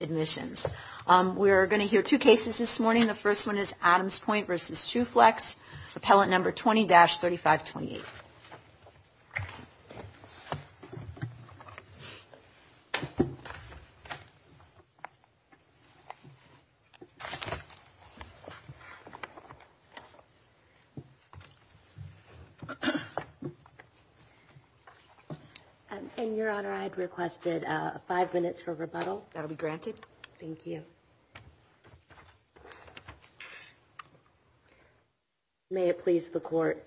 Admissions. We're going to hear two cases this morning. The first one is Adams Pointe versus Tru-Flex, Appellant number 20-3528. And your honor, I'd requested five minutes for rebuttal. That'll be granted. Thank you. May it please the court.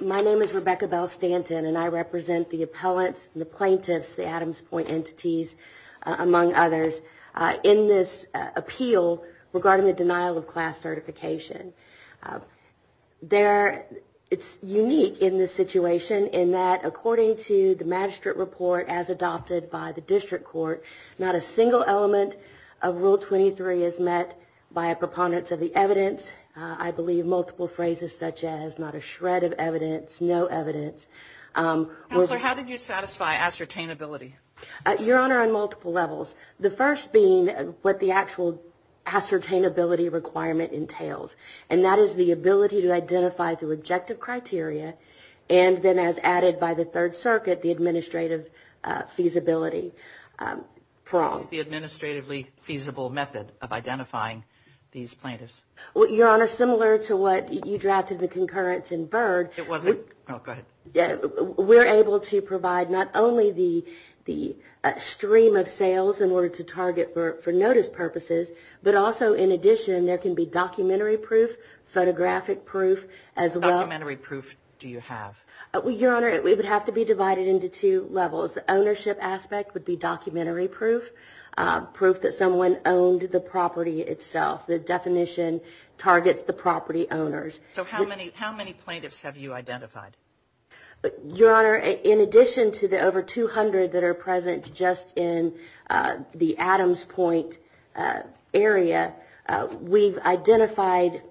My name is Rebecca Bell-Stanton, and I represent the appellants, the plaintiffs, the Adams Pointe entities, among others, in this appeal regarding the denial of class certification. It's unique in this situation in that according to the magistrate report as adopted by the district court, not a single element of Rule 23 is met by a preponderance of the evidence. I believe multiple phrases such as not a shred of evidence, no evidence. Counselor, how did you satisfy ascertainability? Your honor, on multiple levels. The first being what the actual ascertainability requirement entails, and that is the ability to identify through objective criteria, and then as added by the Third Circuit, the administrative feasibility prong. The administratively feasible method of identifying these plaintiffs. Your honor, similar to what you drafted in the concurrence in Byrd, we're able to provide not only the stream of sales in order to target for notice purposes, but also in addition, there can be documentary proof, photographic proof, as well. What documentary proof do you have? Your honor, it would have to be divided into two levels. The ownership aspect would be documentary proof, proof that someone owned the property itself. The definition targets the property owners. So how many plaintiffs have you identified? Your honor, in addition to the over 200 that are present just in the Adams Point area, we've identified,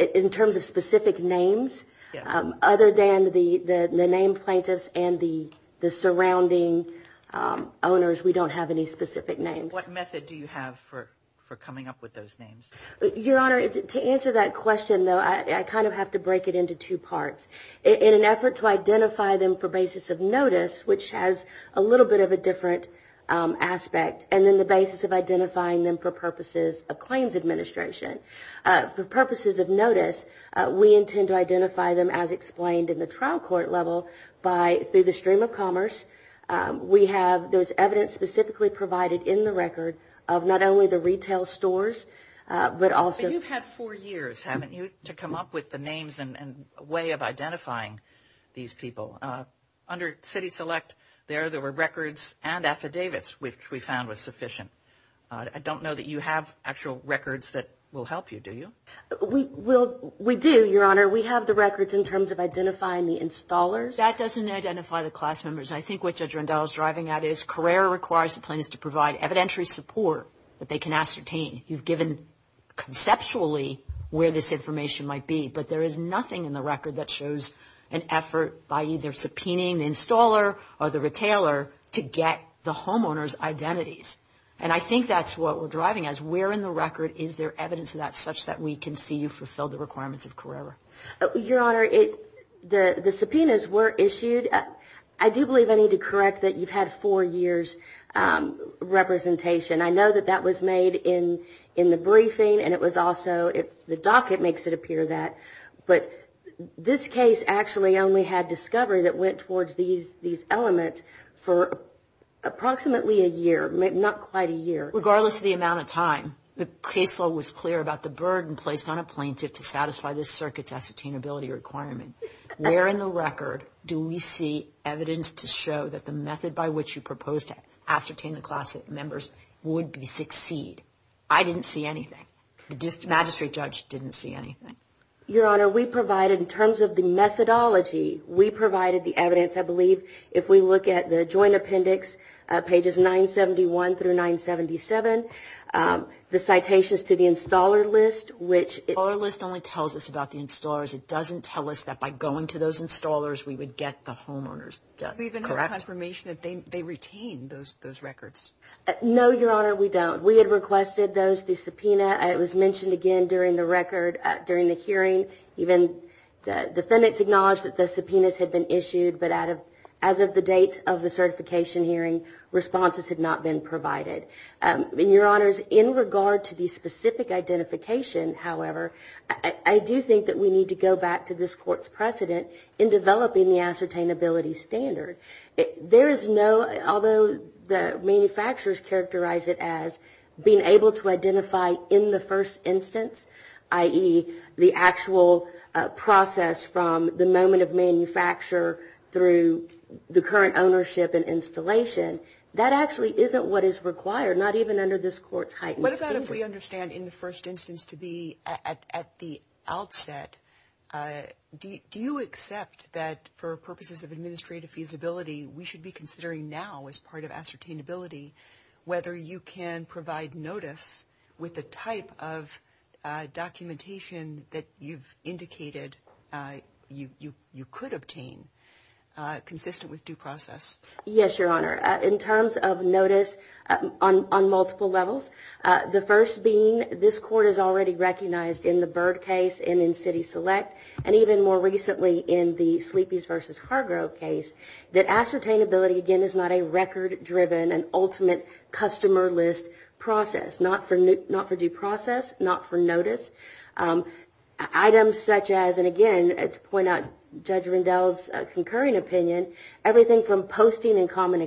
in terms of specific names, other than the name plaintiffs and the surrounding owners, we don't have any specific names. What method do you have for coming up with those names? Your honor, to answer that question, though, I kind of have to break it into two parts. In an effort to identify them for basis of notice, which has a little bit of a different aspect, and then the basis of identifying them for purposes of claims administration. For purposes of notice, we intend to identify them as explained in the trial court level by, through the stream of commerce. We have those evidence specifically provided in the record of not only the retail stores, but also... But you've had four years, haven't you, to come up with the names and way of identifying these people? Under city select there, there were records and affidavits, which we found was sufficient. I don't know that you have actual records that will help you, do you? We do, your honor. We have the records in terms of identifying the installers. That doesn't identify the class members. I think what Judge Randall is driving at is Carrera requires the plaintiffs to provide evidentiary support that they can ascertain. You've given conceptually where this information might be, but there is nothing in the record that shows an effort by either subpoenaing the installer or the retailer to get the homeowner's identities. And I think that's what we're driving at. Where in the record is there evidence of that such that we can see you fulfill the requirements of Carrera? Your honor, the subpoenas were issued. I do believe I need to correct that you've had four years representation. I know that that was made in the briefing and it was also the docket makes it appear that. But this case actually only had discovery that went towards these elements for approximately a year, not quite a year. Regardless of the amount of time, the caseload was clear about the burden placed on a plaintiff to satisfy this circuit's ascertainability requirement. Where in the record do we see evidence to show that the method by which you propose to ascertain the class members would succeed? I didn't see anything. The magistrate judge didn't see anything. Your honor, we provided, in terms of the methodology, we provided the evidence, I believe, if we look at the joint appendix, pages 971 through 977, the citations to the installer list, which... The installer list only tells us about the installers. It doesn't tell us that by going to those installers we would get the homeowners. Do we have any confirmation that they retained those records? No, your honor, we don't. We had requested those through subpoena. It was mentioned again during the record, during the hearing. Even the defendants acknowledged that the subpoenas had been issued, but as of the date of the certification hearing, responses had not been provided. Your honors, in regard to the specific identification, however, I do think that we need to go back to this court's precedent in developing the ascertainability standard. There is no, although the manufacturers characterize it as being able to identify in the first instance, i.e., the actual process from the moment of manufacture through the current ownership and installation, that actually isn't what is required, not even under this court's heightened standard. We should be considering now, as part of ascertainability, whether you can provide notice with the type of documentation that you've indicated you could obtain consistent with due process. Yes, your honor. In terms of notice on multiple levels, the first being this court has already recognized in the Byrd case and in City Select, and even more recently in the Sleepy's v. Hargrove case, that ascertainability, again, is not a record-driven, an ultimate customer list process. Not for due process, not for notice. Items such as, and again, to point out Judge Rendell's concurring opinion, everything from posting in common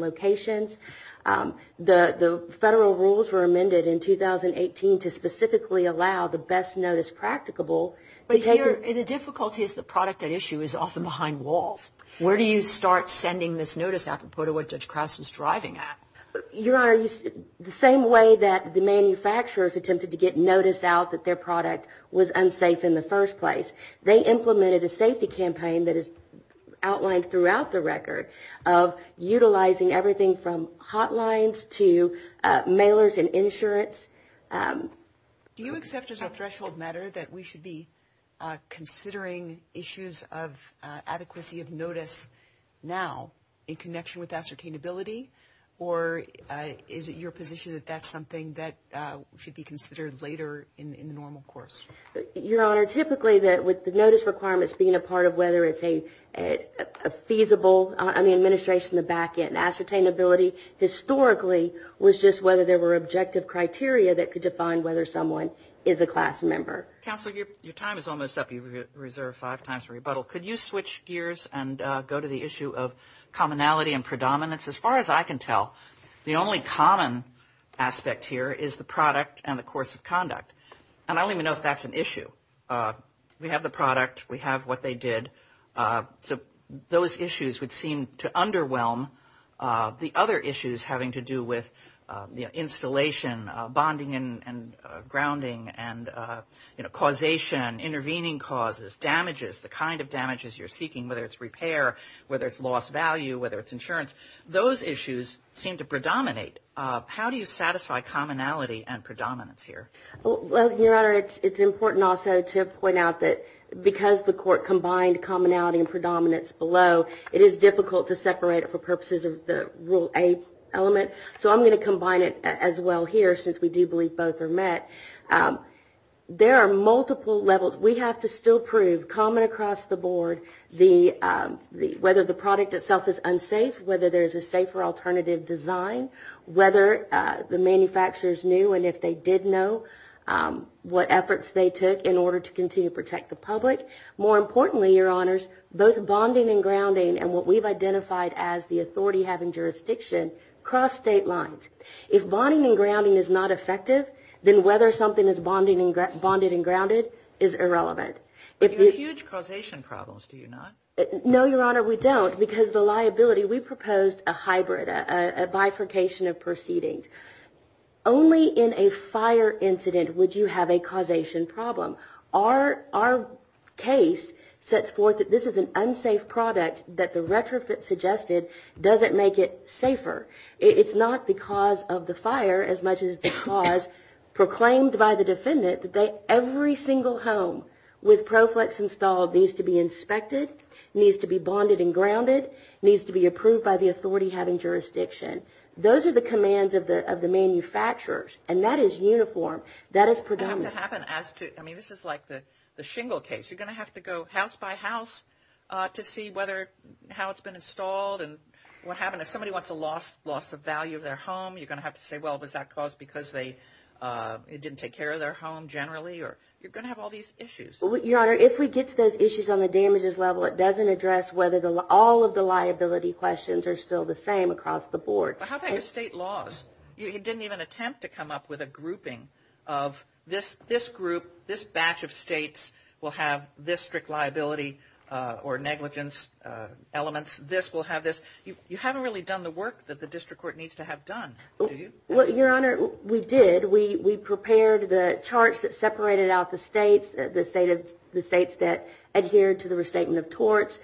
locations, the federal rules were amended in 2018 to specifically allow the best notice practicable. But here, the difficulty is the product at issue is often behind walls. Where do you start sending this notice apropos to what Judge Krause was driving at? Your honor, the same way that the manufacturers attempted to get notice out that their product was unsafe in the first place, they implemented a safety campaign that is outlined throughout the record of utilizing everything from hotlines to mailers and insurance. Do you accept as a threshold matter that we should be considering issues of adequacy of notice now in connection with ascertainability? Or is it your position that that's something that should be considered later in the normal course? Your honor, typically, with the notice requirements being a part of whether it's a feasible on the administration to back it, ascertainability historically was just whether there were objective criteria that could define whether someone is a class member. Counselor, your time is almost up. You've reserved five times for rebuttal. Could you switch gears and go to the issue of commonality and predominance? As far as I can tell, the only common aspect here is the product and the course of conduct. And I don't even know if that's an issue. We have the product. We have what they did. So those issues would seem to underwhelm the other issues having to do with the installation, bonding and grounding and, you know, causation, intervening causes, damages, the kind of damages you're seeking, whether it's repair, whether it's lost value, whether it's insurance. Those issues seem to predominate. How do you satisfy commonality and predominance here? Well, your honor, it's important also to point out that because the court combined commonality and predominance below, it is difficult to separate it for purposes of the Rule A element. So I'm going to combine it as well here since we do believe both are met. There are multiple levels. We have to still prove common across the board whether the product itself is unsafe, whether there is a safer alternative design, whether the manufacturers knew, and if they did know, what efforts they took in order to continue to protect the public. More importantly, your honors, both bonding and grounding and what we've identified as the authority having jurisdiction cross state lines. If bonding and grounding is not effective, then whether something is bonded and grounded is irrelevant. You have huge causation problems, do you not? No, your honor, we don't. Because the liability, we proposed a hybrid, a bifurcation of proceedings. Only in a fire incident would you have a causation problem. Our case sets forth that this is an unsafe product, that the retrofit suggested doesn't make it safer. It's not the cause of the fire as much as the cause proclaimed by the defendant. Every single home with ProFlex installed needs to be inspected, needs to be bonded and grounded, needs to be approved by the authority having jurisdiction. Those are the commands of the manufacturers, and that is uniform. That is predominant. I mean, this is like the shingle case. You're going to have to go house by house to see how it's been installed and what happened. If somebody wants a loss of value of their home, you're going to have to say, well, was that caused because they didn't take care of their home generally? You're going to have all these issues. Your honor, if we get to those issues on the damages level, it doesn't address whether all of the liability questions are still the same across the board. How about your state laws? You didn't even attempt to come up with a grouping of this group, this batch of states will have this strict liability or negligence elements, this will have this. You haven't really done the work that the district court needs to have done, do you? Well, your honor, we did. We prepared the charts that separated out the states, the states that adhered to the restatement of torts,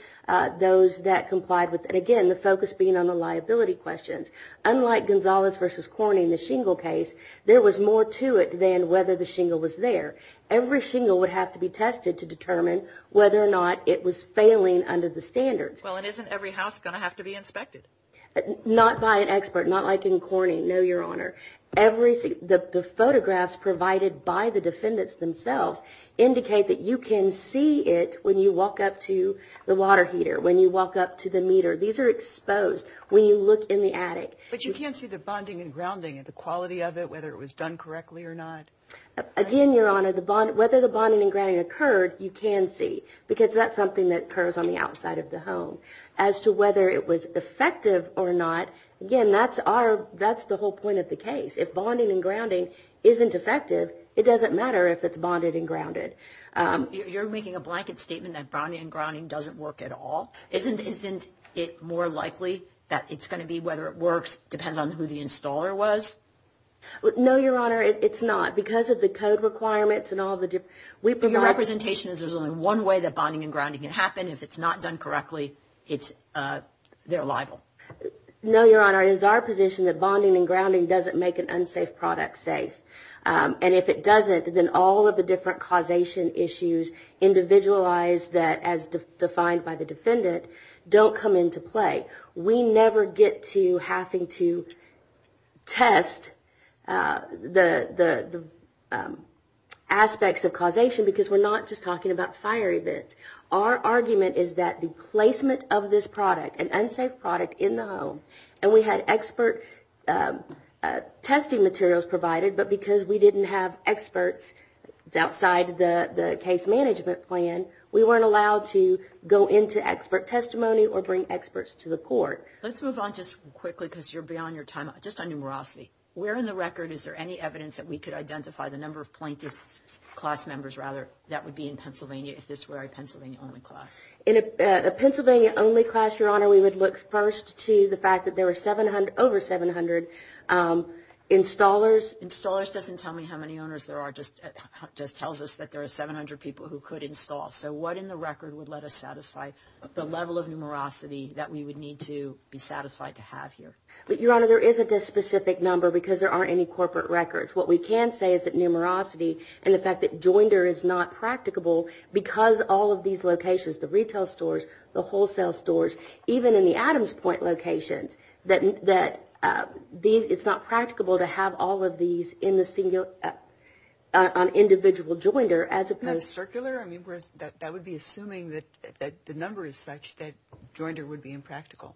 those that complied with, and again, the focus being on the liability questions. Unlike Gonzalez v. Corning, the shingle case, there was more to it than whether the shingle was there. Every shingle would have to be tested to determine whether or not it was failing under the standards. Well, and isn't every house going to have to be inspected? Not by an expert, not like in Corning, no, your honor. The photographs provided by the defendants themselves indicate that you can see it when you walk up to the water heater, when you walk up to the meter. These are exposed when you look in the attic. But you can't see the bonding and grounding and the quality of it, whether it was done correctly or not? Again, your honor, whether the bonding and grounding occurred, you can see, because that's something that occurs on the outside of the home. As to whether it was effective or not, again, that's our, that's the whole point of the case. If bonding and grounding isn't effective, it doesn't matter if it's bonded and grounded. You're making a blanket statement that bonding and grounding doesn't work at all. Isn't it more likely that it's going to be whether it works depends on who the installer was? No, your honor, it's not. Because of the code requirements and all the different, we've been. Your representation is there's only one way that bonding and grounding can happen. If it's not done correctly, it's, they're liable. No, your honor, it is our position that bonding and grounding doesn't make an unsafe product safe. And if it doesn't, then all of the different causation issues individualized that, as defined by the defendant, don't come into play. We never get to having to test the aspects of causation because we're not just talking about fire events. Our argument is that the placement of this product, an unsafe product in the home, and we had expert testing materials provided, but because we didn't have experts outside the case management plan, we weren't allowed to go into expert testimony or bring experts to the court. Let's move on just quickly because you're beyond your time, just on numerosity. Where in the record is there any evidence that we could identify the number of plaintiffs, class members, rather, that would be in Pennsylvania if this were a Pennsylvania-only class? In a Pennsylvania-only class, your honor, we would look first to the fact that there were over 700 installers. Installers doesn't tell me how many owners there are. It just tells us that there are 700 people who could install. So what in the record would let us satisfy the level of numerosity that we would need to be satisfied to have here? Your honor, there isn't a specific number because there aren't any corporate records. What we can say is that numerosity and the fact that joinder is not practicable because all of these locations, the retail stores, the wholesale stores, even in the Adams Point locations, that it's not practicable to have all of these on individual joinder as opposed to... Circular? I mean, that would be assuming that the number is such that joinder would be impractical.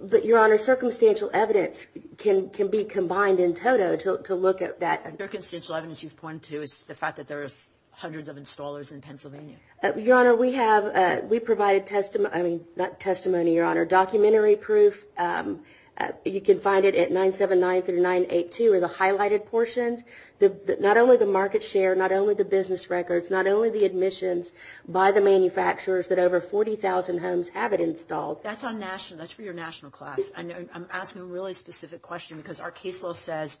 But, your honor, circumstantial evidence can be combined in total to look at that. Circumstantial evidence you've pointed to is the fact that there are hundreds of installers in Pennsylvania. Your honor, we have, we provide testimony, I mean, not testimony, your honor, documentary proof. You can find it at 979 through 982 are the highlighted portions. Not only the market share, not only the business records, not only the admissions by the manufacturers that over 40,000 homes have it installed. So, that's on national, that's for your national class. I'm asking a really specific question because our case law says,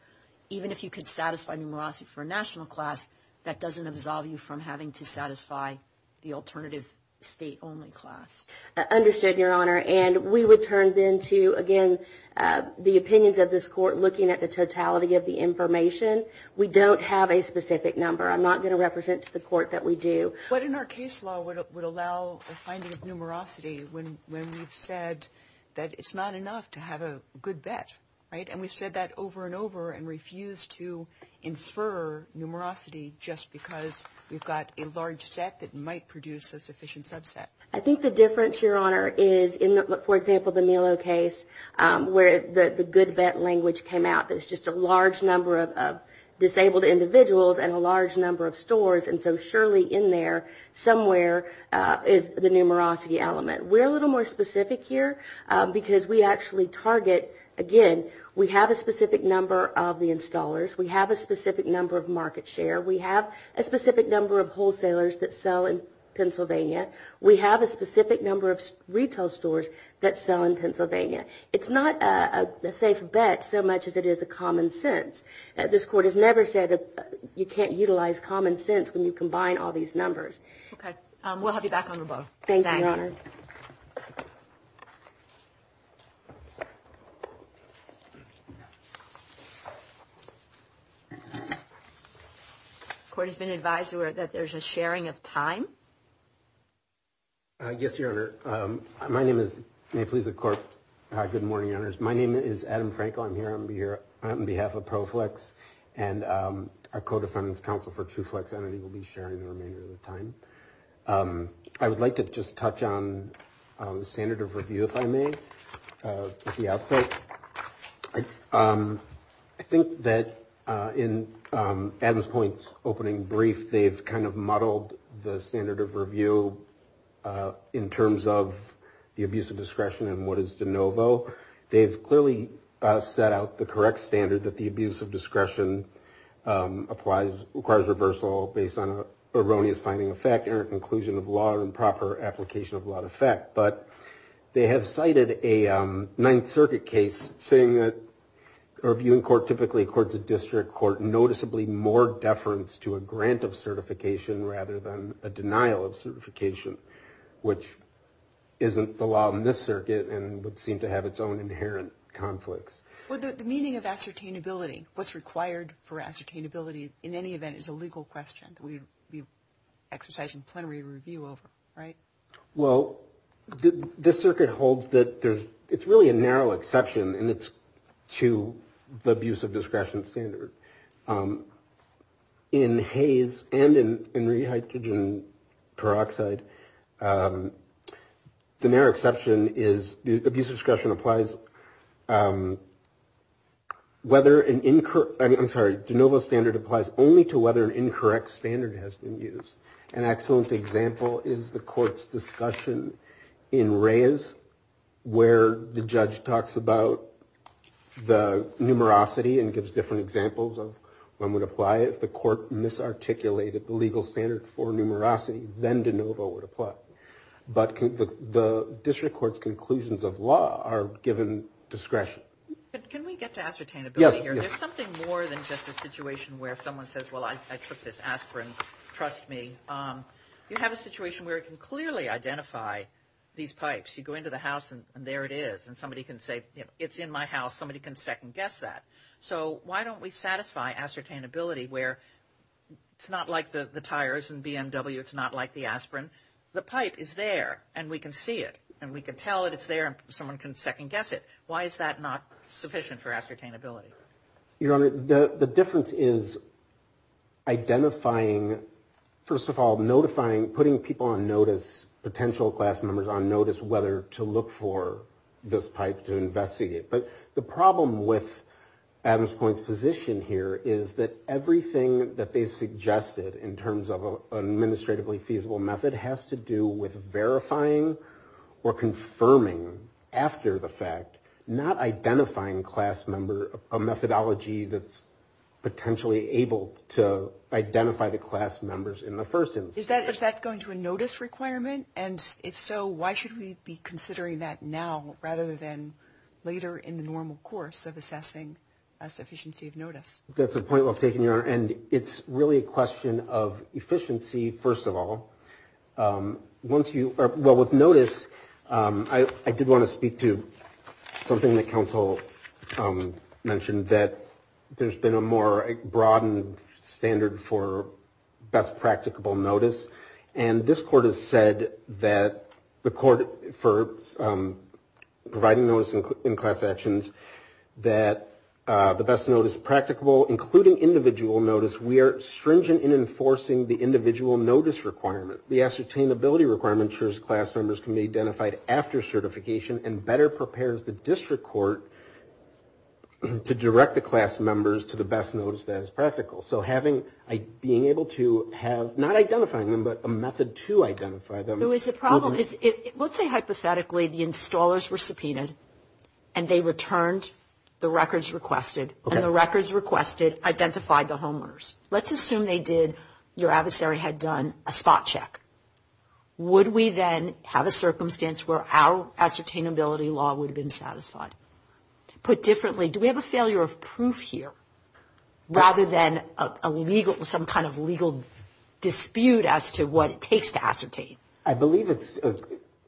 even if you could satisfy numerosity for a national class, that doesn't absolve you from having to satisfy the alternative state-only class. Understood, your honor. And we would turn then to, again, the opinions of this court looking at the totality of the information. We don't have a specific number. I'm not going to represent to the court that we do. What in our case law would allow a finding of numerosity when we've said that it's not enough to have a good bet, right? And we've said that over and over and refused to infer numerosity just because we've got a large set that might produce a sufficient subset. I think the difference, your honor, is in, for example, the Milo case where the good bet language came out. There's just a large number of disabled individuals and a large number of stores. And so surely in there somewhere is the numerosity element. We're a little more specific here because we actually target, again, we have a specific number of the installers. We have a specific number of market share. We have a specific number of wholesalers that sell in Pennsylvania. We have a specific number of retail stores that sell in Pennsylvania. It's not a safe bet so much as it is a common sense. This court has never said that you can't utilize common sense when you combine all these numbers. We'll have you back on the ball. Thank you, Your Honor. The court has been advised that there's a sharing of time. Yes, Your Honor. My name is, may it please the court. Good morning, Your Honors. My name is Adam Frankel. I'm here on behalf of ProFlex. And our co-defendant's counsel for TrueFlex entity will be sharing the remainder of the time. I would like to just touch on the standard of review, if I may, at the outset. I think that in Adam's point's opening brief, they've kind of muddled the standard of review in terms of the abuse of discretion and what is de novo. They've clearly set out the correct standard that the abuse of discretion requires reversal based on an erroneous finding of fact, or a conclusion of law, or improper application of law to effect. But they have cited a Ninth Circuit case saying that a reviewing court typically accords a district court noticeably more deference to a grant of certification rather than a denial of certification, which isn't the law in this circuit and would seem to have its own inherent conflicts. Well, the meaning of ascertainability, what's required for ascertainability in any event is a legal question that we'd be exercising plenary review over, right? Well, this circuit holds that it's really a narrow exception, and it's to the abuse of discretion standard. In Hays and in rehydrogen peroxide, the narrow exception is the abuse of discretion applies whether an incorrect, I'm sorry, de novo standard applies only to whether an incorrect standard has been used. An excellent example is the court's discussion in Reyes where the judge talks about the numerosity and gives different examples of when would apply it. If the court misarticulated the legal standard for numerosity, then de novo would apply. But the district court's conclusions of law are given discretion. Can we get to ascertainability here? Yes. There's something more than just a situation where someone says, well, I took this aspirin, trust me. You have a situation where it can clearly identify these pipes. You go into the house, and there it is. And somebody can say, you know, it's in my house. Somebody can second guess that. So why don't we satisfy ascertainability where it's not like the tires and BMW, it's not like the aspirin. The pipe is there, and we can see it, and we can tell that it's there, and someone can second guess it. Why is that not sufficient for ascertainability? Your Honor, the difference is identifying, first of all, notifying, putting people on notice, potential class members on notice, whether to look for this pipe to investigate. But the problem with Adams Point's position here is that everything that they suggested in terms of an administratively feasible method has to do with verifying or confirming after the fact, not identifying class member, a methodology that's potentially able to identify the class members in the first instance. Is that going to a notice requirement? And if so, why should we be considering that now rather than later in the normal course of assessing a sufficiency of notice? That's a point well taken, Your Honor, and it's really a question of efficiency, first of all. Well, with notice, I did want to speak to something that counsel mentioned, that there's been a more broadened standard for best practicable notice. And this Court has said that the Court, for providing notice in class actions, that the best notice is practicable, including individual notice. We are stringent in enforcing the individual notice requirement. The ascertainability requirement ensures class members can be identified after certification and better prepares the district court to direct the class members to the best notice that is practical. So having, being able to have, not identifying them, but a method to identify them. The problem is, let's say hypothetically the installers were subpoenaed and they returned the records requested, and the records requested identified the homeowners. Let's assume they did, your adversary had done a spot check. Would we then have a circumstance where our ascertainability law would have been satisfied? Put differently, do we have a failure of proof here, rather than a legal, some kind of legal dispute as to what it takes to ascertain? I believe it's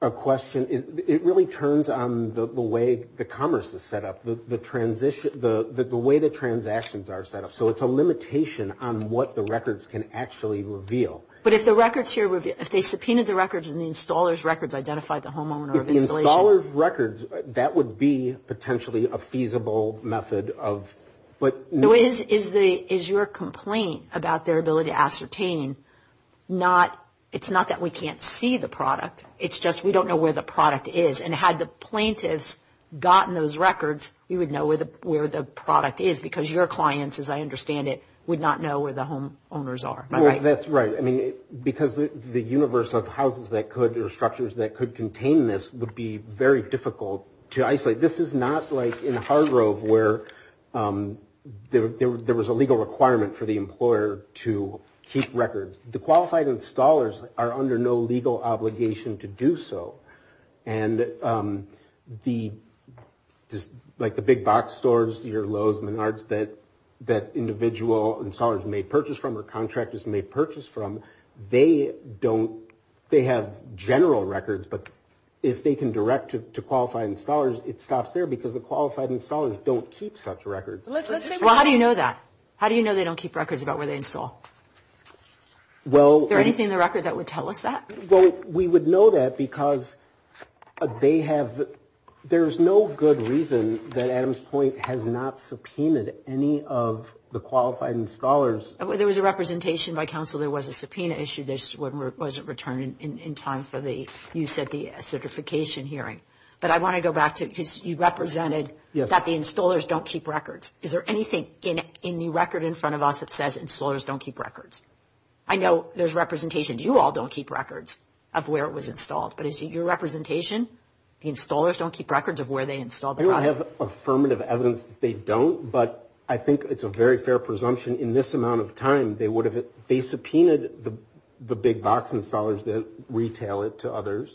a question, it really turns on the way the commerce is set up, the transition, the way the transactions are set up. So it's a limitation on what the records can actually reveal. But if the records here, if they subpoenaed the records and the installers' records identified the homeowner of installation. The installers' records, that would be potentially a feasible method of, but. Is your complaint about their ability to ascertain not, it's not that we can't see the product, it's just we don't know where the product is. And had the plaintiffs gotten those records, we would know where the product is, because your clients, as I understand it, would not know where the homeowners are. That's right. I mean, because the universe of houses that could or structures that could contain this would be very difficult to isolate. This is not like in Hargrove, where there was a legal requirement for the employer to keep records. The qualified installers are under no legal obligation to do so. And the, like the big box stores, your Lowe's, Menards, that individual installers may purchase from or contractors may purchase from, they don't, they have general records. But if they can direct to qualified installers, it stops there, because the qualified installers don't keep such records. Well, how do you know that? How do you know they don't keep records about where they install? Well. Is there anything in the record that would tell us that? Well, we would know that, because they have, there's no good reason that Adam's point has not subpoenaed any of the qualified installers. There was a representation by counsel, there was a subpoena issued, this wasn't returned in time for the, you said the certification hearing. But I want to go back to, because you represented that the installers don't keep records. Is there anything in the record in front of us that says installers don't keep records? I know there's representation, you all don't keep records of where it was installed. But is it your representation, the installers don't keep records of where they installed the product? I don't have affirmative evidence that they don't, but I think it's a very fair presumption in this amount of time they would have, they subpoenaed the big box installers that retail it to others,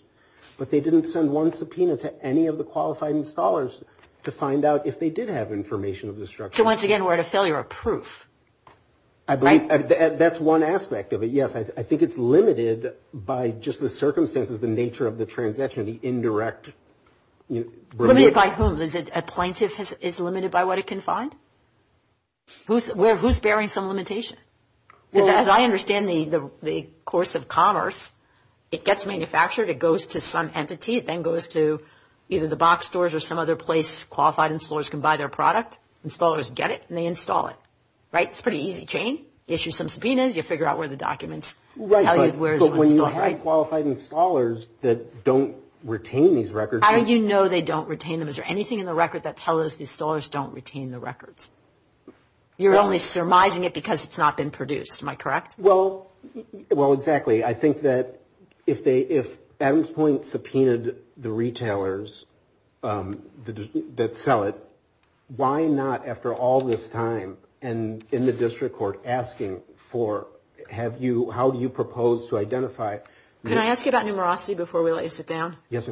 but they didn't send one subpoena to any of the qualified installers to find out if they did have information of the structure. I believe that's one aspect of it, yes. I think it's limited by just the circumstances, the nature of the transaction, the indirect. Limited by whom? A plaintiff is limited by what it can find? Who's bearing some limitation? Because as I understand the course of commerce, it gets manufactured, it goes to some entity, it then goes to either the box stores or some other place qualified installers can buy their product, installers get it and they install it, right? It's a pretty easy chain. Issue some subpoenas, you figure out where the documents tell you where it was installed. But when you have qualified installers that don't retain these records. How do you know they don't retain them? Is there anything in the record that tells us the installers don't retain the records? You're only surmising it because it's not been produced, am I correct? Well, exactly. I think that if Adams Point subpoenaed the retailers that sell it, why not after all this time and in the district court asking for how do you propose to identify? Can I ask you about numerosity before we let you sit down? Yes.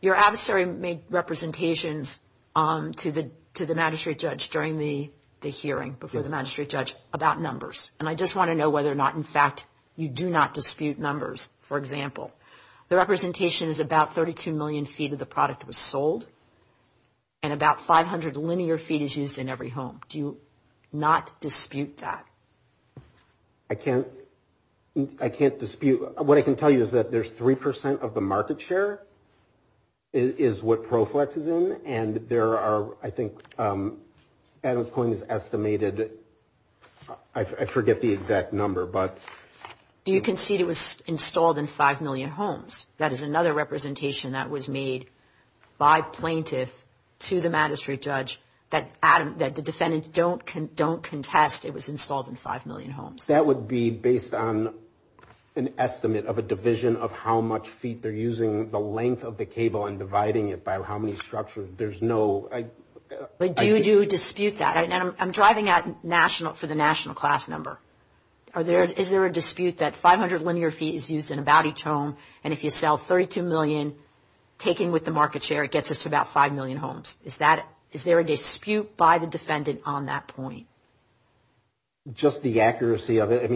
Your adversary made representations to the magistrate judge during the hearing, before the magistrate judge, about numbers. And I just want to know whether or not, in fact, you do not dispute numbers. For example, the representation is about 32 million feet of the product was sold and about 500 linear feet is used in every home. Do you not dispute that? I can't dispute. What I can tell you is that there's 3% of the market share is what ProFlex is in and there are, I think, Adams Point is estimated, I forget the exact number, but. Do you concede it was installed in 5 million homes? That is another representation that was made by plaintiff to the magistrate judge that the defendants don't contest it was installed in 5 million homes. That would be based on an estimate of a division of how much feet they're using, the length of the cable and dividing it by how many structures. There's no. Do you dispute that? I'm driving for the national class number. Is there a dispute that 500 linear feet is used in about each home and if you sell 32 million, taking with the market share, it gets us to about 5 million homes. Is there a dispute by the defendant on that point? Just the accuracy of it.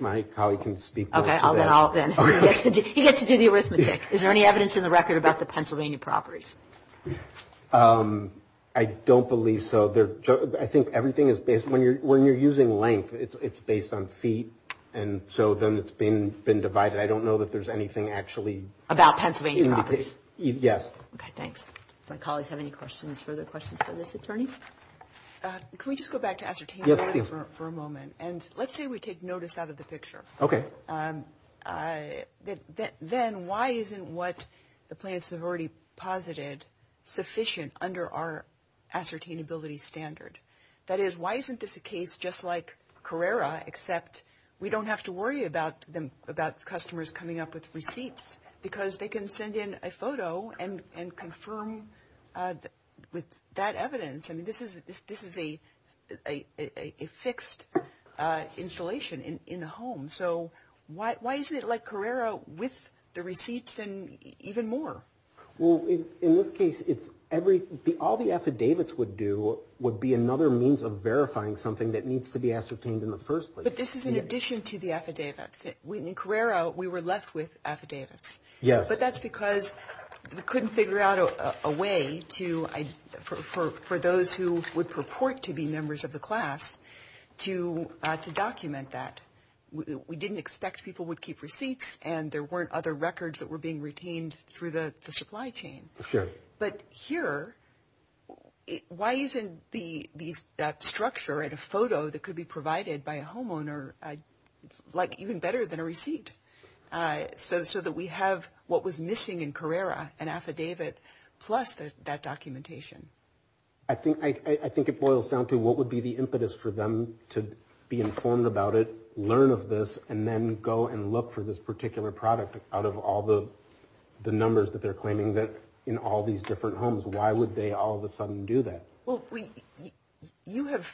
My colleague can speak more to that. Okay. He gets to do the arithmetic. Is there any evidence in the record about the Pennsylvania properties? I don't believe so. I think everything is based, when you're using length, it's based on feet and so then it's been divided. I don't know that there's anything actually. About Pennsylvania properties? Yes. Okay, thanks. My colleagues have any questions, further questions for this attorney? Can we just go back to ascertainment for a moment? And let's say we take notice out of the picture. Okay. Then why isn't what the plaintiffs have already posited sufficient under our ascertainability standard? That is, why isn't this a case just like Carrera, except we don't have to worry about customers coming up with receipts because they can send in a photo and confirm with that evidence. This is a fixed installation in the home. So why isn't it like Carrera with the receipts and even more? Well, in this case, all the affidavits would do would be another means of verifying something that needs to be ascertained in the first place. But this is in addition to the affidavits. In Carrera, we were left with affidavits. Yes. But that's because we couldn't figure out a way for those who would purport to be members of the class to document that. We didn't expect people would keep receipts, and there weren't other records that were being retained through the supply chain. Sure. But here, why isn't that structure and a photo that could be provided by a homeowner like even better than a receipt? So that we have what was missing in Carrera, an affidavit, plus that documentation. I think it boils down to what would be the impetus for them to be informed about it, learn of this, and then go and look for this particular product out of all the numbers that they're claiming in all these different homes. Why would they all of a sudden do that? Well, you have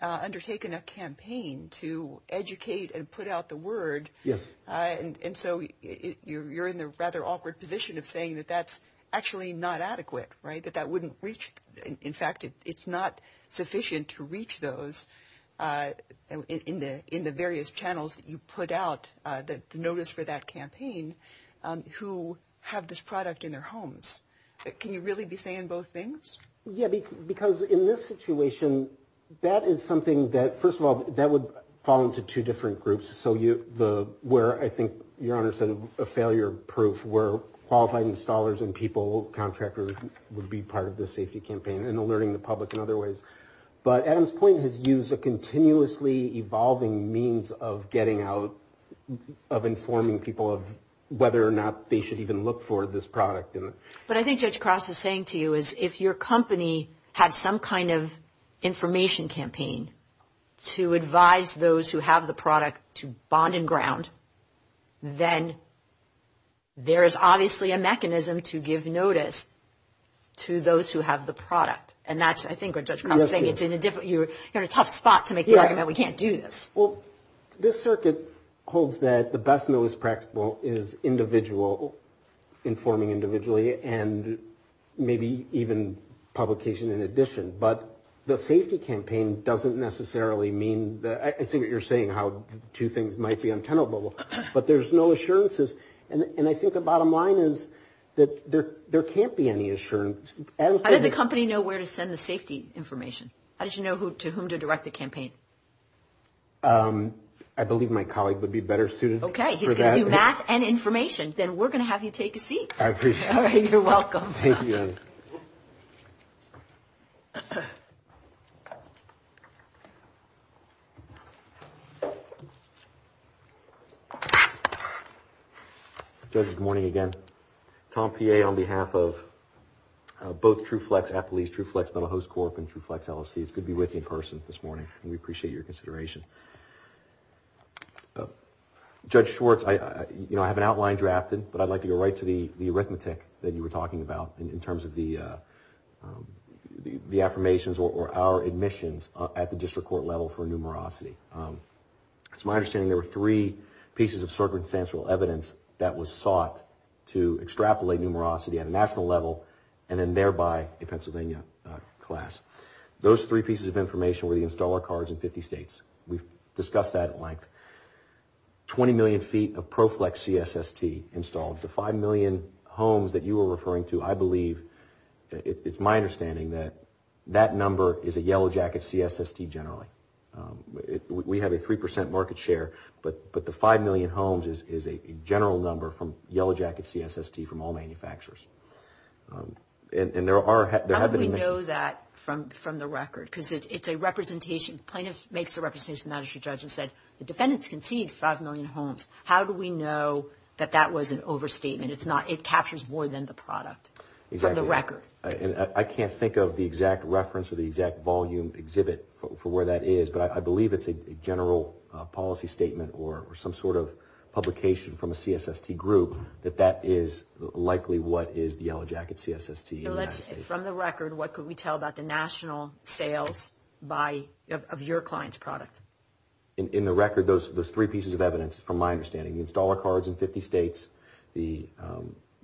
undertaken a campaign to educate and put out the word. Yes. And so you're in the rather awkward position of saying that that's actually not adequate, right, that that wouldn't reach. In fact, it's not sufficient to reach those in the various channels that you put out, the notice for that campaign, who have this product in their homes. Can you really be saying both things? Yeah, because in this situation, that is something that, first of all, that would fall into two different groups, where I think your Honor said a failure proof, where qualified installers and people, contractors, would be part of the safety campaign and alerting the public in other ways. But Adam's point has used a continuously evolving means of getting out, of informing people of whether or not they should even look for this product. What I think Judge Cross is saying to you is if your company has some kind of information campaign to advise those who have the product to bond and ground, then there is obviously a mechanism to give notice to those who have the product. And that's, I think, what Judge Cross is saying. You're in a tough spot to make the argument we can't do this. Well, this circuit holds that the best and most practical is individual, informing individually, and maybe even publication in addition. But the safety campaign doesn't necessarily mean that – I see what you're saying, how two things might be untenable, but there's no assurances. And I think the bottom line is that there can't be any assurance. How did the company know where to send the safety information? How did you know to whom to direct the campaign? I believe my colleague would be better suited for that. Okay, he's going to do math and information. Then we're going to have you take a seat. I appreciate it. All right, you're welcome. Thank you. Judge, good morning again. Tom Peay, on behalf of both TruFlex, Applebee's, TruFlex Metalhost Corp., and TruFlex LLCs, could be with me in person this morning. We appreciate your consideration. Judge Schwartz, I have an outline drafted, but I'd like to go right to the arithmetic that you were talking about in terms of the affirmations or our admissions at the district court level for numerosity. It's my understanding there were three pieces of circumstantial evidence that was sought to extrapolate numerosity at a national level and then thereby a Pennsylvania class. Those three pieces of information were the installer cards in 50 states. We've discussed that at length. Twenty million feet of ProFlex CSST installed. The five million homes that you were referring to, I believe, it's my understanding that that number is a Yellow Jacket CSST generally. We have a 3% market share, but the five million homes is a general number from Yellow Jacket CSST from all manufacturers. And there are... How do we know that from the record? Because it's a representation. The plaintiff makes a representation to the magistrate judge and said, the defendants conceded five million homes. How do we know that that was an overstatement? It's not. It captures more than the product from the record. I can't think of the exact reference or the exact volume exhibit for where that is, but I believe it's a general policy statement or some sort of publication from a CSST group that that is likely what is the Yellow Jacket CSST in the United States. And from the record, what could we tell about the national sales of your client's product? In the record, those three pieces of evidence, from my understanding, the installer cards in 50 states, the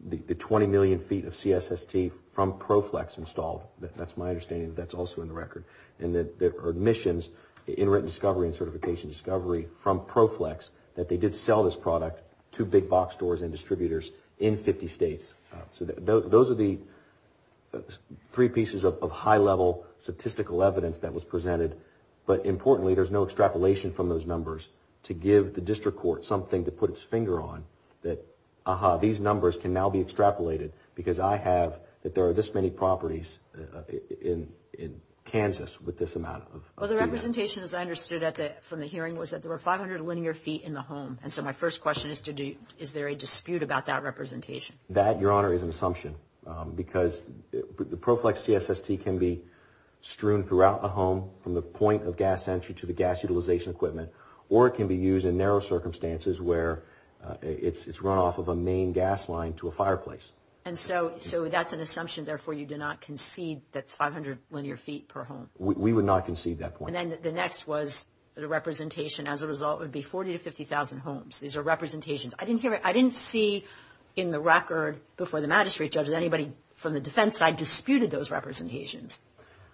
20 million feet of CSST from ProFlex installed. That's my understanding. That's also in the record. And there are admissions in written discovery and certification discovery from ProFlex that they did sell this product to big box stores and distributors in 50 states. So those are the three pieces of high-level statistical evidence that was presented. But importantly, there's no extrapolation from those numbers to give the district court something to put its finger on that, aha, these numbers can now be extrapolated, because I have that there are this many properties in Kansas with this amount of feedback. Well, the representation, as I understood it from the hearing, was that there were 500 linear feet in the home. And so my first question is, is there a dispute about that representation? That, Your Honor, is an assumption, because the ProFlex CSST can be strewn throughout the home from the point of gas entry to the gas utilization equipment, or it can be used in narrow circumstances where it's run off of a main gas line to a fireplace. And so that's an assumption. Therefore, you do not concede that's 500 linear feet per home? We would not concede that point. And then the next was the representation. As a result, it would be 40,000 to 50,000 homes. These are representations. I didn't see in the record before the magistrate judges, anybody from the defense side disputed those representations.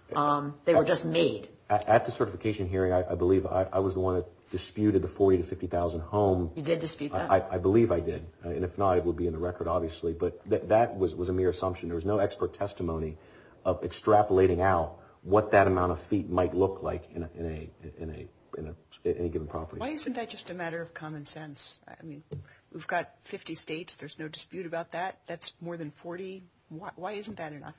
They were just made. At the certification hearing, I believe I was the one that disputed the 40,000 to 50,000 homes. You did dispute that? I believe I did. And if not, it would be in the record, obviously. But that was a mere assumption. There was no expert testimony of extrapolating out what that amount of feet might look like in a given property. Why isn't that just a matter of common sense? I mean, we've got 50 states. There's no dispute about that. That's more than 40. Why isn't that enough?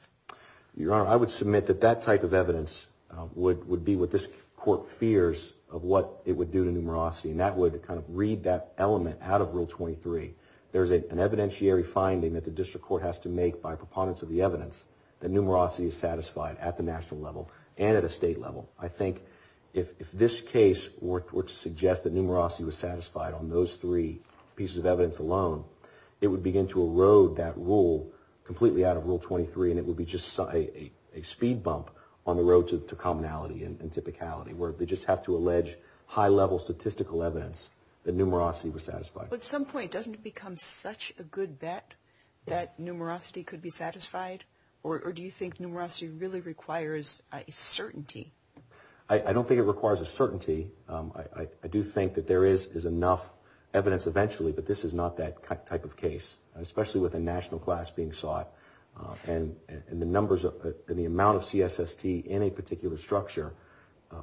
Your Honor, I would submit that that type of evidence would be what this court fears of what it would do to numerosity. And that would kind of read that element out of Rule 23. There's an evidentiary finding that the district court has to make by preponderance of the evidence that numerosity is satisfied at the national level and at a state level. I think if this case were to suggest that numerosity was satisfied on those three pieces of evidence alone, it would begin to erode that rule completely out of Rule 23, and it would be just a speed bump on the road to commonality and typicality, where they just have to allege high-level statistical evidence that numerosity was satisfied. At some point, doesn't it become such a good bet that numerosity could be satisfied? Or do you think numerosity really requires a certainty? I don't think it requires a certainty. I do think that there is enough evidence eventually, but this is not that type of case, especially with a national class being sought. And the numbers and the amount of CSST in a particular structure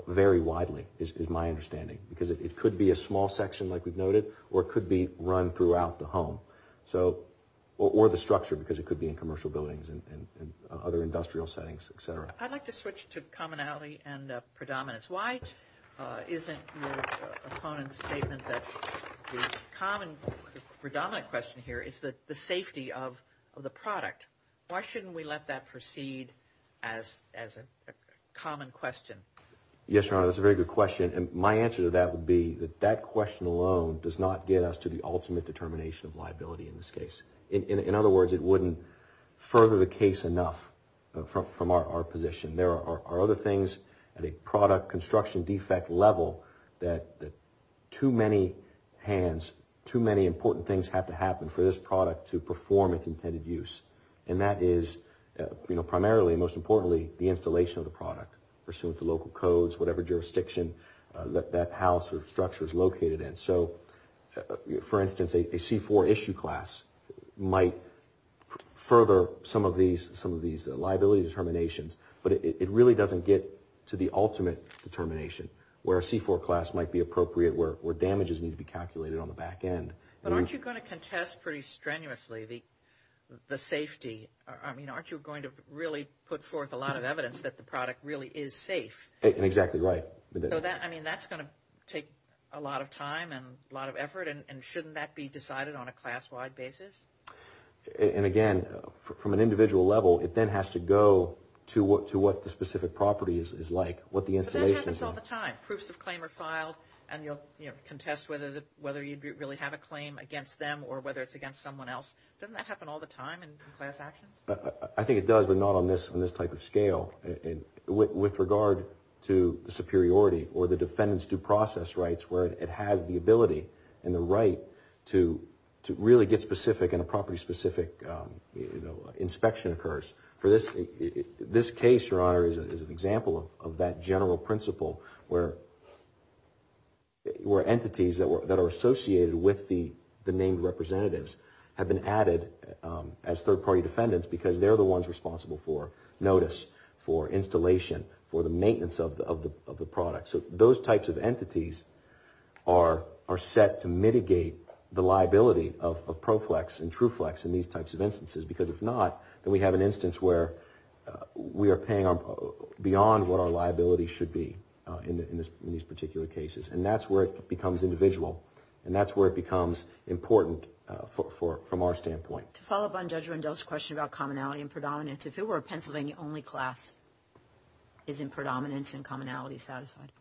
vary widely, is my understanding, because it could be a small section like we've noted, or it could be run throughout the home, or the structure, because it could be in commercial buildings and other industrial settings, et cetera. I'd like to switch to commonality and predominance. Why isn't your opponent's statement that the predominant question here is the safety of the product? Why shouldn't we let that proceed as a common question? Yes, Your Honor, that's a very good question. And my answer to that would be that that question alone does not get us to the ultimate determination of liability in this case. In other words, it wouldn't further the case enough from our position. There are other things at a product construction defect level that too many hands, too many important things have to happen for this product to perform its intended use. And that is primarily, most importantly, the installation of the product, pursuant to local codes, whatever jurisdiction that house or structure is located in. So, for instance, a C-4 issue class might further some of these liability determinations, but it really doesn't get to the ultimate determination where a C-4 class might be appropriate, where damages need to be calculated on the back end. But aren't you going to contest pretty strenuously the safety? Aren't you going to really put forth a lot of evidence that the product really is safe? Exactly right. So that's going to take a lot of time and a lot of effort, and shouldn't that be decided on a class-wide basis? And again, from an individual level, it then has to go to what the specific property is like, what the installation is like. But that happens all the time. Proofs of claim are filed, and you'll contest whether you really have a claim against them or whether it's against someone else. Doesn't that happen all the time in class actions? I think it does, but not on this type of scale. With regard to the superiority or the defendant's due process rights, where it has the ability and the right to really get specific and a property-specific inspection occurs. For this case, Your Honor, is an example of that general principle where entities that are associated with the named representatives have been added as third-party defendants because they're the ones responsible for notice, for installation, for the maintenance of the product. So those types of entities are set to mitigate the liability of ProFlex and TruFlex in these types of instances because if not, then we have an instance where we are paying beyond what our liability should be in these particular cases. And that's where it becomes individual, and that's where it becomes important from our standpoint. To follow up on Judge Rendell's question about commonality and predominance, if it were a Pennsylvania-only class, isn't predominance and commonality satisfied?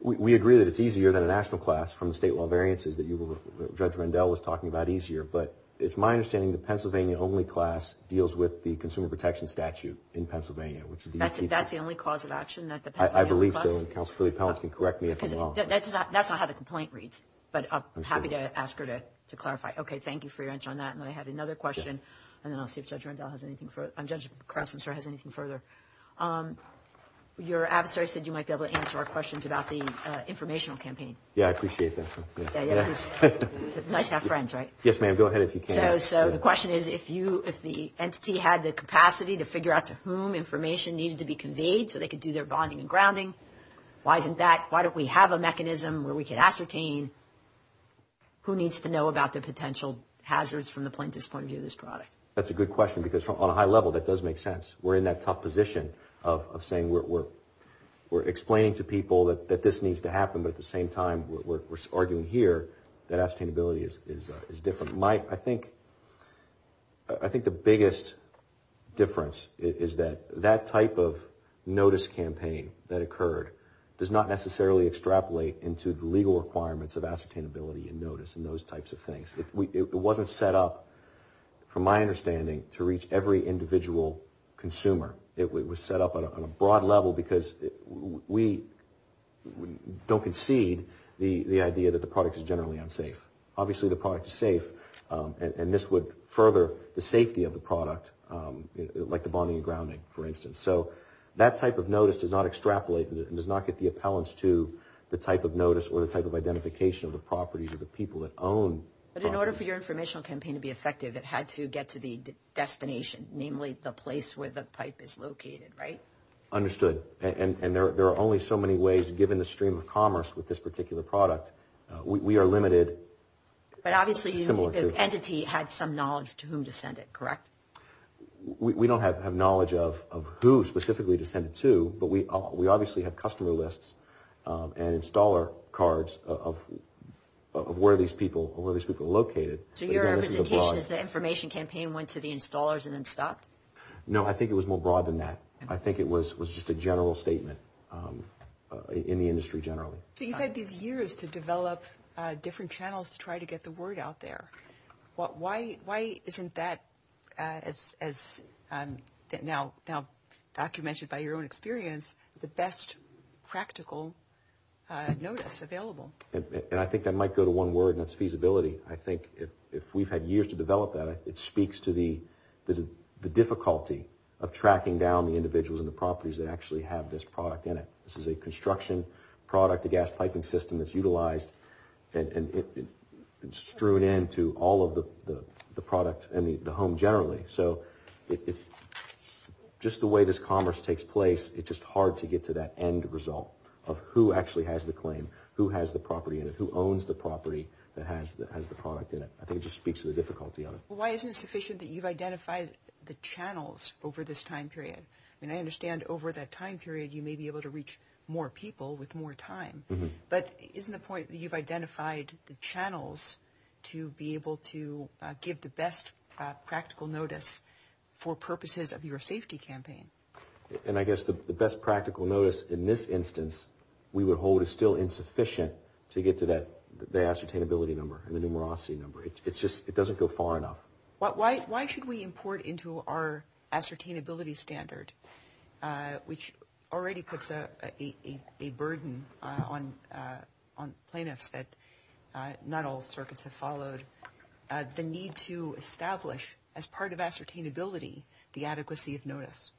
We agree that it's easier than a national class from the state law variances that Judge Rendell was talking about easier, but it's my understanding the Pennsylvania-only class deals with the Consumer Protection Statute in Pennsylvania. That's the only cause of action that the Pennsylvania-only class? I believe so, and Counselor Filly-Pallant can correct me if I'm wrong. That's not how the complaint reads, but I'm happy to ask her to clarify. Okay, thank you for your answer on that. And then I have another question, and then I'll see if Judge Rendell has anything further. I mean, Judge Krause, I'm sorry, has anything further. Your adversary said you might be able to answer our questions about the informational campaign. Yeah, I appreciate that. It's nice to have friends, right? Yes, ma'am, go ahead if you can. So the question is, if the entity had the capacity to figure out to whom information needed to be conveyed so they could do their bonding and grounding, why isn't that? Why don't we have a mechanism where we can ascertain who needs to know about the potential hazards from the plaintiff's point of view of this product? That's a good question, because on a high level, that does make sense. We're in that tough position of saying we're explaining to people that this needs to happen, but at the same time, we're arguing here that ascertainability is different. I think the biggest difference is that that type of notice campaign that occurred does not necessarily extrapolate into the legal requirements of ascertainability and notice and those types of things. It wasn't set up, from my understanding, to reach every individual consumer. It was set up on a broad level because we don't concede the idea that the product is generally unsafe. Obviously, the product is safe, and this would further the safety of the product, like the bonding and grounding, for instance. So that type of notice does not extrapolate and does not get the appellants to the type of notice or the type of identification of the properties or the people that own properties. But in order for your informational campaign to be effective, it had to get to the destination, namely the place where the pipe is located, right? Understood. And there are only so many ways, given the stream of commerce with this particular product. We are limited. But obviously the entity had some knowledge to whom to send it, correct? We don't have knowledge of who specifically to send it to, but we obviously have customer lists and installer cards of where these people are located. So your representation is the information campaign went to the installers and then stopped? No, I think it was more broad than that. I think it was just a general statement in the industry generally. So you've had these years to develop different channels to try to get the word out there. Why isn't that, as now documented by your own experience, the best practical notice available? And I think that might go to one word, and that's feasibility. I think if we've had years to develop that, it speaks to the difficulty of tracking down the individuals and the properties that actually have this product in it. This is a construction product, a gas piping system that's utilized and strewn into all of the product and the home generally. So it's just the way this commerce takes place, it's just hard to get to that end result of who actually has the claim, who has the property in it, who owns the property that has the product in it. I think it just speaks to the difficulty of it. Why isn't it sufficient that you've identified the channels over this time period? I mean, I understand over that time period you may be able to reach more people with more time, but isn't the point that you've identified the channels to be able to give the best practical notice for purposes of your safety campaign? And I guess the best practical notice in this instance we would hold is still insufficient to get to the ascertainability number and the numerosity number. It just doesn't go far enough. Why should we import into our ascertainability standard, which already puts a burden on plaintiffs that not all circuits have followed, the need to establish as part of ascertainability the adequacy of notice?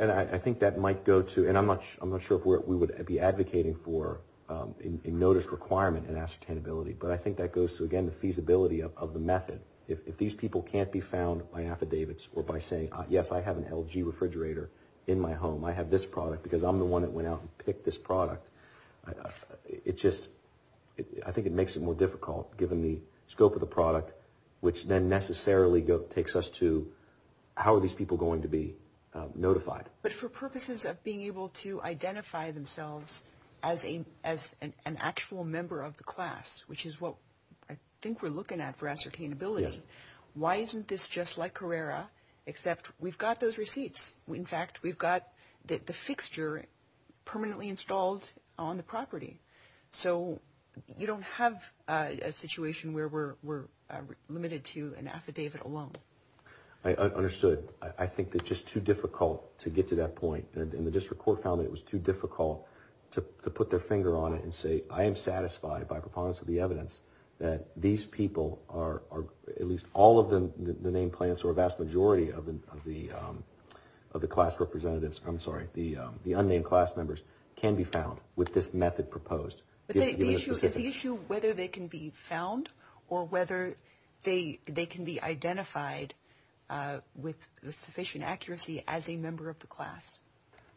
And I think that might go to, and I'm not sure if we would be advocating for a notice requirement in ascertainability, but I think that goes to, again, the feasibility of the method. If these people can't be found by affidavits or by saying, yes, I have an LG refrigerator in my home, I have this product because I'm the one that went out and picked this product, it just, I think it makes it more difficult, given the scope of the product, which then necessarily takes us to, how are these people going to be notified? But for purposes of being able to identify themselves as an actual member of the class, which is what I think we're looking at for ascertainability, why isn't this just like Carrera, except we've got those receipts? In fact, we've got the fixture permanently installed on the property. So you don't have a situation where we're limited to an affidavit alone. I understood. I think it's just too difficult to get to that point, and the district court found that it was too difficult to put their finger on it and say, I am satisfied by preponderance of the evidence that these people are, at least all of the named plaintiffs or a vast majority of the class representatives, I'm sorry, the unnamed class members, can be found with this method proposed. Is the issue whether they can be found or whether they can be identified with sufficient accuracy as a member of the class?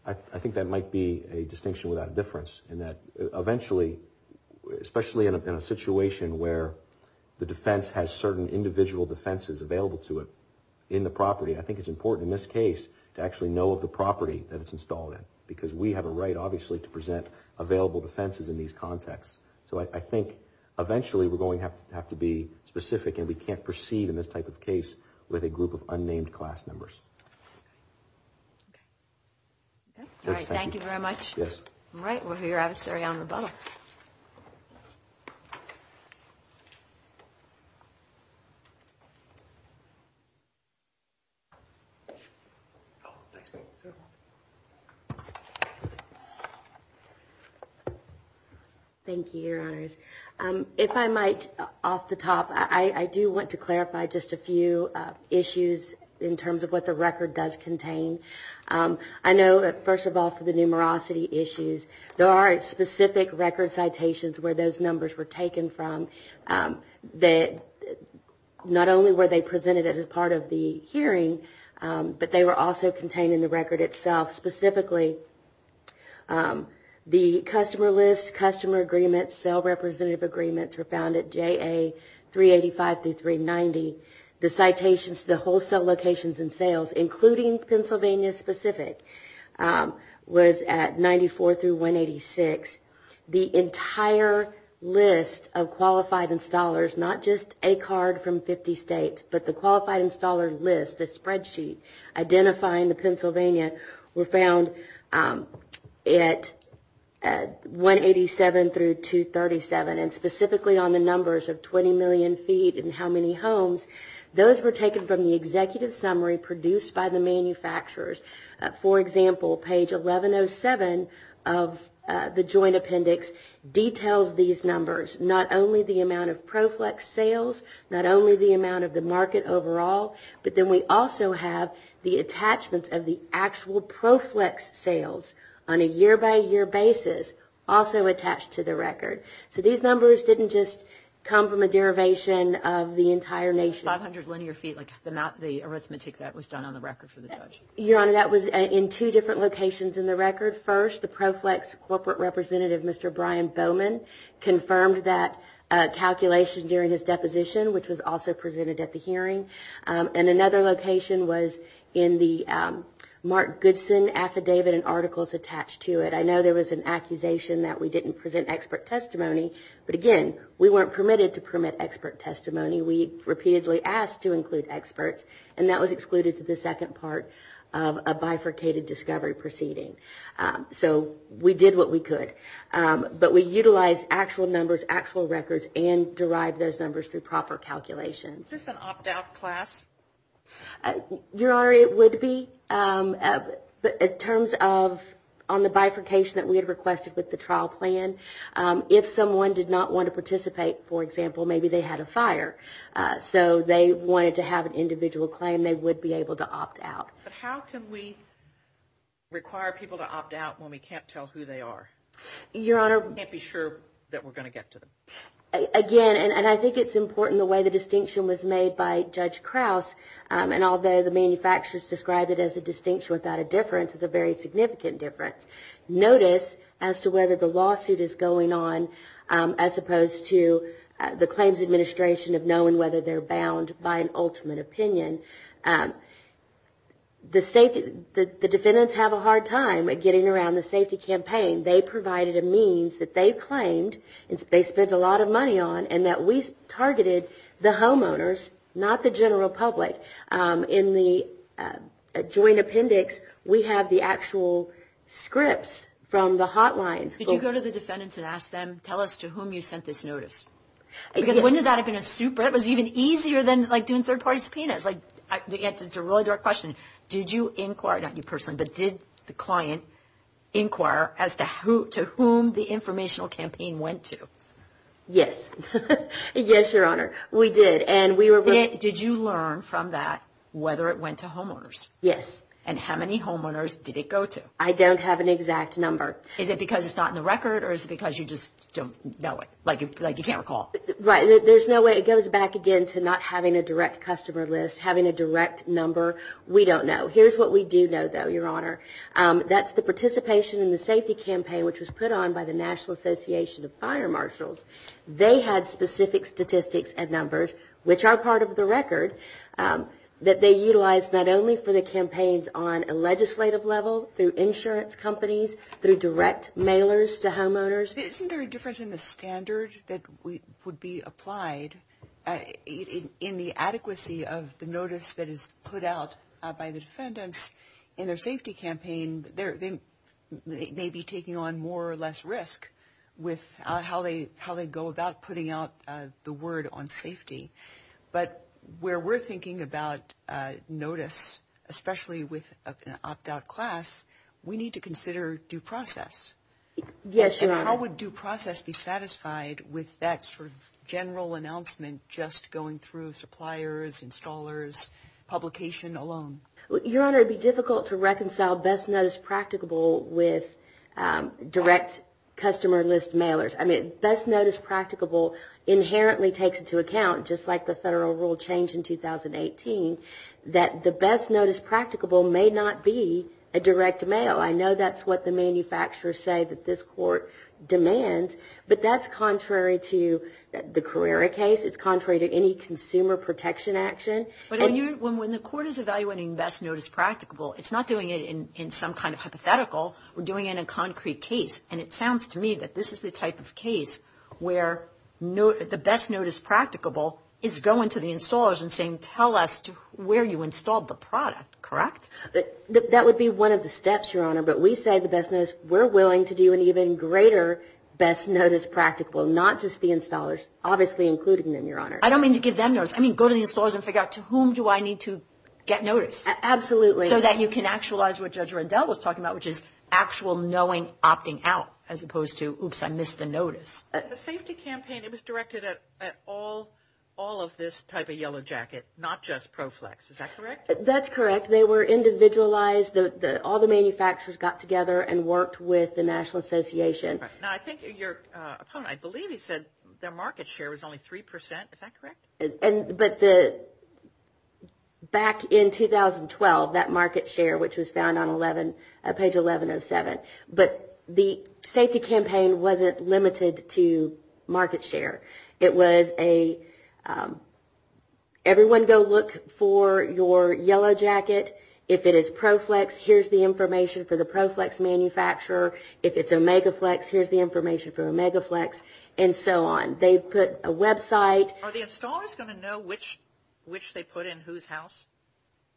I think that might be a distinction without a difference in that eventually, especially in a situation where the defense has certain individual defenses available to it in the property, I think it's important in this case to actually know of the property that it's installed in, because we have a right, obviously, to present available defenses in these contexts. So I think eventually we're going to have to be specific, and we can't proceed in this type of case with a group of unnamed class members. Okay. All right. Thank you very much. Yes. All right. We'll hear out of Surrey on rebuttal. Thank you, Your Honors. If I might, off the top, I do want to clarify just a few issues in terms of what the record does contain. I know, first of all, for the numerosity issues, there are specific record citations where those numbers were taken from. Not only were they presented as part of the hearing, but they were also contained in the record itself. Specifically, the customer lists, customer agreements, sale representative agreements were found at JA 385 through 390. The citations to the wholesale locations and sales, including Pennsylvania specific, was at 94 through 186. The entire list of qualified installers, not just a card from 50 states, but the qualified installer list, the spreadsheet, identifying the Pennsylvania were found at 187 through 237. And specifically on the numbers of 20 million feet and how many homes, those were taken from the executive summary produced by the manufacturers. For example, page 1107 of the joint appendix details these numbers, not only the amount of ProFlex sales, not only the amount of the market overall, but then we also have the attachments of the actual ProFlex sales on a year-by-year basis also attached to the record. So these numbers didn't just come from a derivation of the entire nation. 500 linear feet, like the arithmetic that was done on the record for the judge. Your Honor, that was in two different locations in the record. First, the ProFlex corporate representative, Mr. Brian Bowman, confirmed that calculation during his deposition, which was also presented at the hearing. And another location was in the Mark Goodson affidavit and articles attached to it. I know there was an accusation that we didn't present expert testimony, but again, we weren't permitted to permit expert testimony. We repeatedly asked to include experts, and that was excluded to the second part of a bifurcated discovery proceeding. So we did what we could. But we utilized actual numbers, actual records, and derived those numbers through proper calculations. Is this an opt-out class? Your Honor, it would be. But in terms of on the bifurcation that we had requested with the trial plan, if someone did not want to participate, for example, maybe they had a fire, so they wanted to have an individual claim, they would be able to opt out. But how can we require people to opt out when we can't tell who they are? Your Honor. We can't be sure that we're going to get to them. Again, and I think it's important the way the distinction was made by Judge Krause, and although the manufacturers described it as a distinction without a difference, it's a very significant difference. Notice as to whether the lawsuit is going on as opposed to the claims administration of knowing whether they're bound by an ultimate opinion. The defendants have a hard time getting around the safety campaign. They provided a means that they claimed they spent a lot of money on and that we targeted the homeowners, not the general public. In the joint appendix, we have the actual scripts from the hotlines. Could you go to the defendants and ask them, tell us to whom you sent this notice? Because wouldn't that have been a super? It was even easier than doing third-party subpoenas. The answer to a really direct question, did you inquire, not you personally, but did the client inquire as to whom the informational campaign went to? Yes. Yes, Your Honor. We did. Did you learn from that whether it went to homeowners? Yes. And how many homeowners did it go to? I don't have an exact number. Is it because it's not in the record or is it because you just don't know it, like you can't recall? Right. There's no way. It goes back again to not having a direct customer list, having a direct number. We don't know. Here's what we do know, though, Your Honor. That's the participation in the safety campaign, which was put on by the National Association of Fire Marshals. They had specific statistics and numbers, which are part of the record, that they utilized not only for the campaigns on a legislative level, through insurance companies, through direct mailers to homeowners. Isn't there a difference in the standard that would be applied in the adequacy of the notice that is put out by the defendants in their safety campaign? They may be taking on more or less risk with how they go about putting out the word on safety. But where we're thinking about notice, especially with an opt-out class, we need to consider due process. Yes, Your Honor. How would due process be satisfied with that sort of general announcement just going through suppliers, installers, publication alone? Your Honor, it would be difficult to reconcile best notice practicable with direct customer list mailers. I mean, best notice practicable inherently takes into account, just like the federal rule changed in 2018, that the best notice practicable may not be a direct mail. I know that's what the manufacturers say that this court demands, but that's contrary to the Carrera case. It's contrary to any consumer protection action. But when the court is evaluating best notice practicable, it's not doing it in some kind of hypothetical. We're doing it in a concrete case. And it sounds to me that this is the type of case where the best notice practicable is going to the installers and saying tell us where you installed the product, correct? That would be one of the steps, Your Honor. But we say the best notice, we're willing to do an even greater best notice practicable, not just the installers, obviously including them, Your Honor. I don't mean to give them notice. I mean, go to the installers and figure out to whom do I need to get notice. Absolutely. So that you can actualize what Judge Rundell was talking about, which is actual knowing, opting out, as opposed to, oops, I missed the notice. The safety campaign, it was directed at all of this type of yellow jacket, not just ProFlex. Is that correct? That's correct. They were individualized. All the manufacturers got together and worked with the National Association. Now, I think your opponent, I believe he said their market share was only 3%. Is that correct? But back in 2012, that market share, which was found on page 1107, but the safety campaign wasn't limited to market share. It was a everyone go look for your yellow jacket. If it is ProFlex, here's the information for the ProFlex manufacturer. If it's OmegaFlex, here's the information for OmegaFlex, and so on. They put a website. Are the installers going to know which they put in whose house?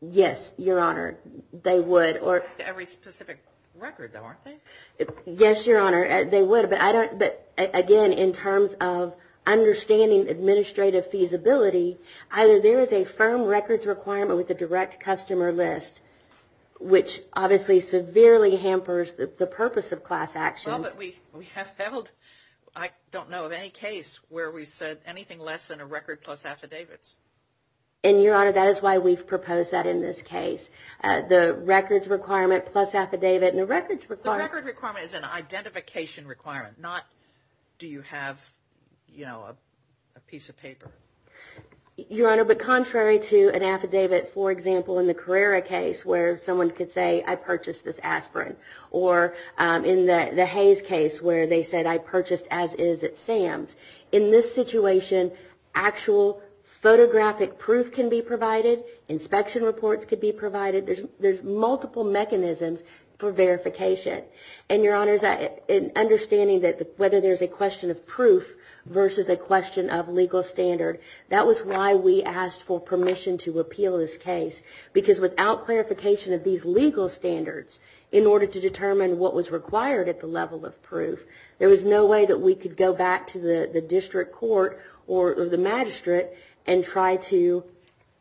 Yes, Your Honor, they would. Every specific record, though, aren't they? Yes, Your Honor, they would. But, again, in terms of understanding administrative feasibility, either there is a firm records requirement with a direct customer list, which obviously severely hampers the purpose of class actions. Well, but we have held, I don't know of any case where we said anything less than a record plus affidavits. And, Your Honor, that is why we've proposed that in this case. The records requirement plus affidavit and the records requirement. The records requirement is an identification requirement, not do you have, you know, a piece of paper. Your Honor, but contrary to an affidavit, for example, in the Carrera case, where someone could say I purchased this aspirin, or in the Hayes case where they said I purchased as is at Sam's. In this situation, actual photographic proof can be provided. Inspection reports could be provided. There's multiple mechanisms for verification. And, Your Honor, in understanding whether there's a question of proof versus a question of legal standard, that was why we asked for permission to appeal this case. Because without clarification of these legal standards, in order to determine what was required at the level of proof, there was no way that we could go back to the district court or the magistrate and try to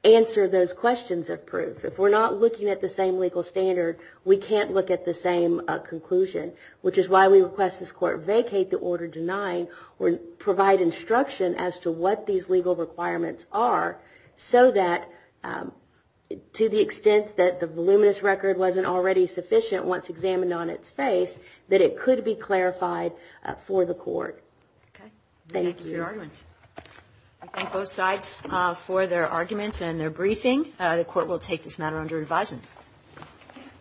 answer those questions of proof. If we're not looking at the same legal standard, we can't look at the same conclusion, which is why we request this court vacate the order denying or provide instruction as to what these legal requirements are so that, to the extent that the voluminous record wasn't already sufficient once examined on its face, that it could be clarified for the court. Okay. I thank both sides for their arguments and their briefing. The Court will take this matter under advisement.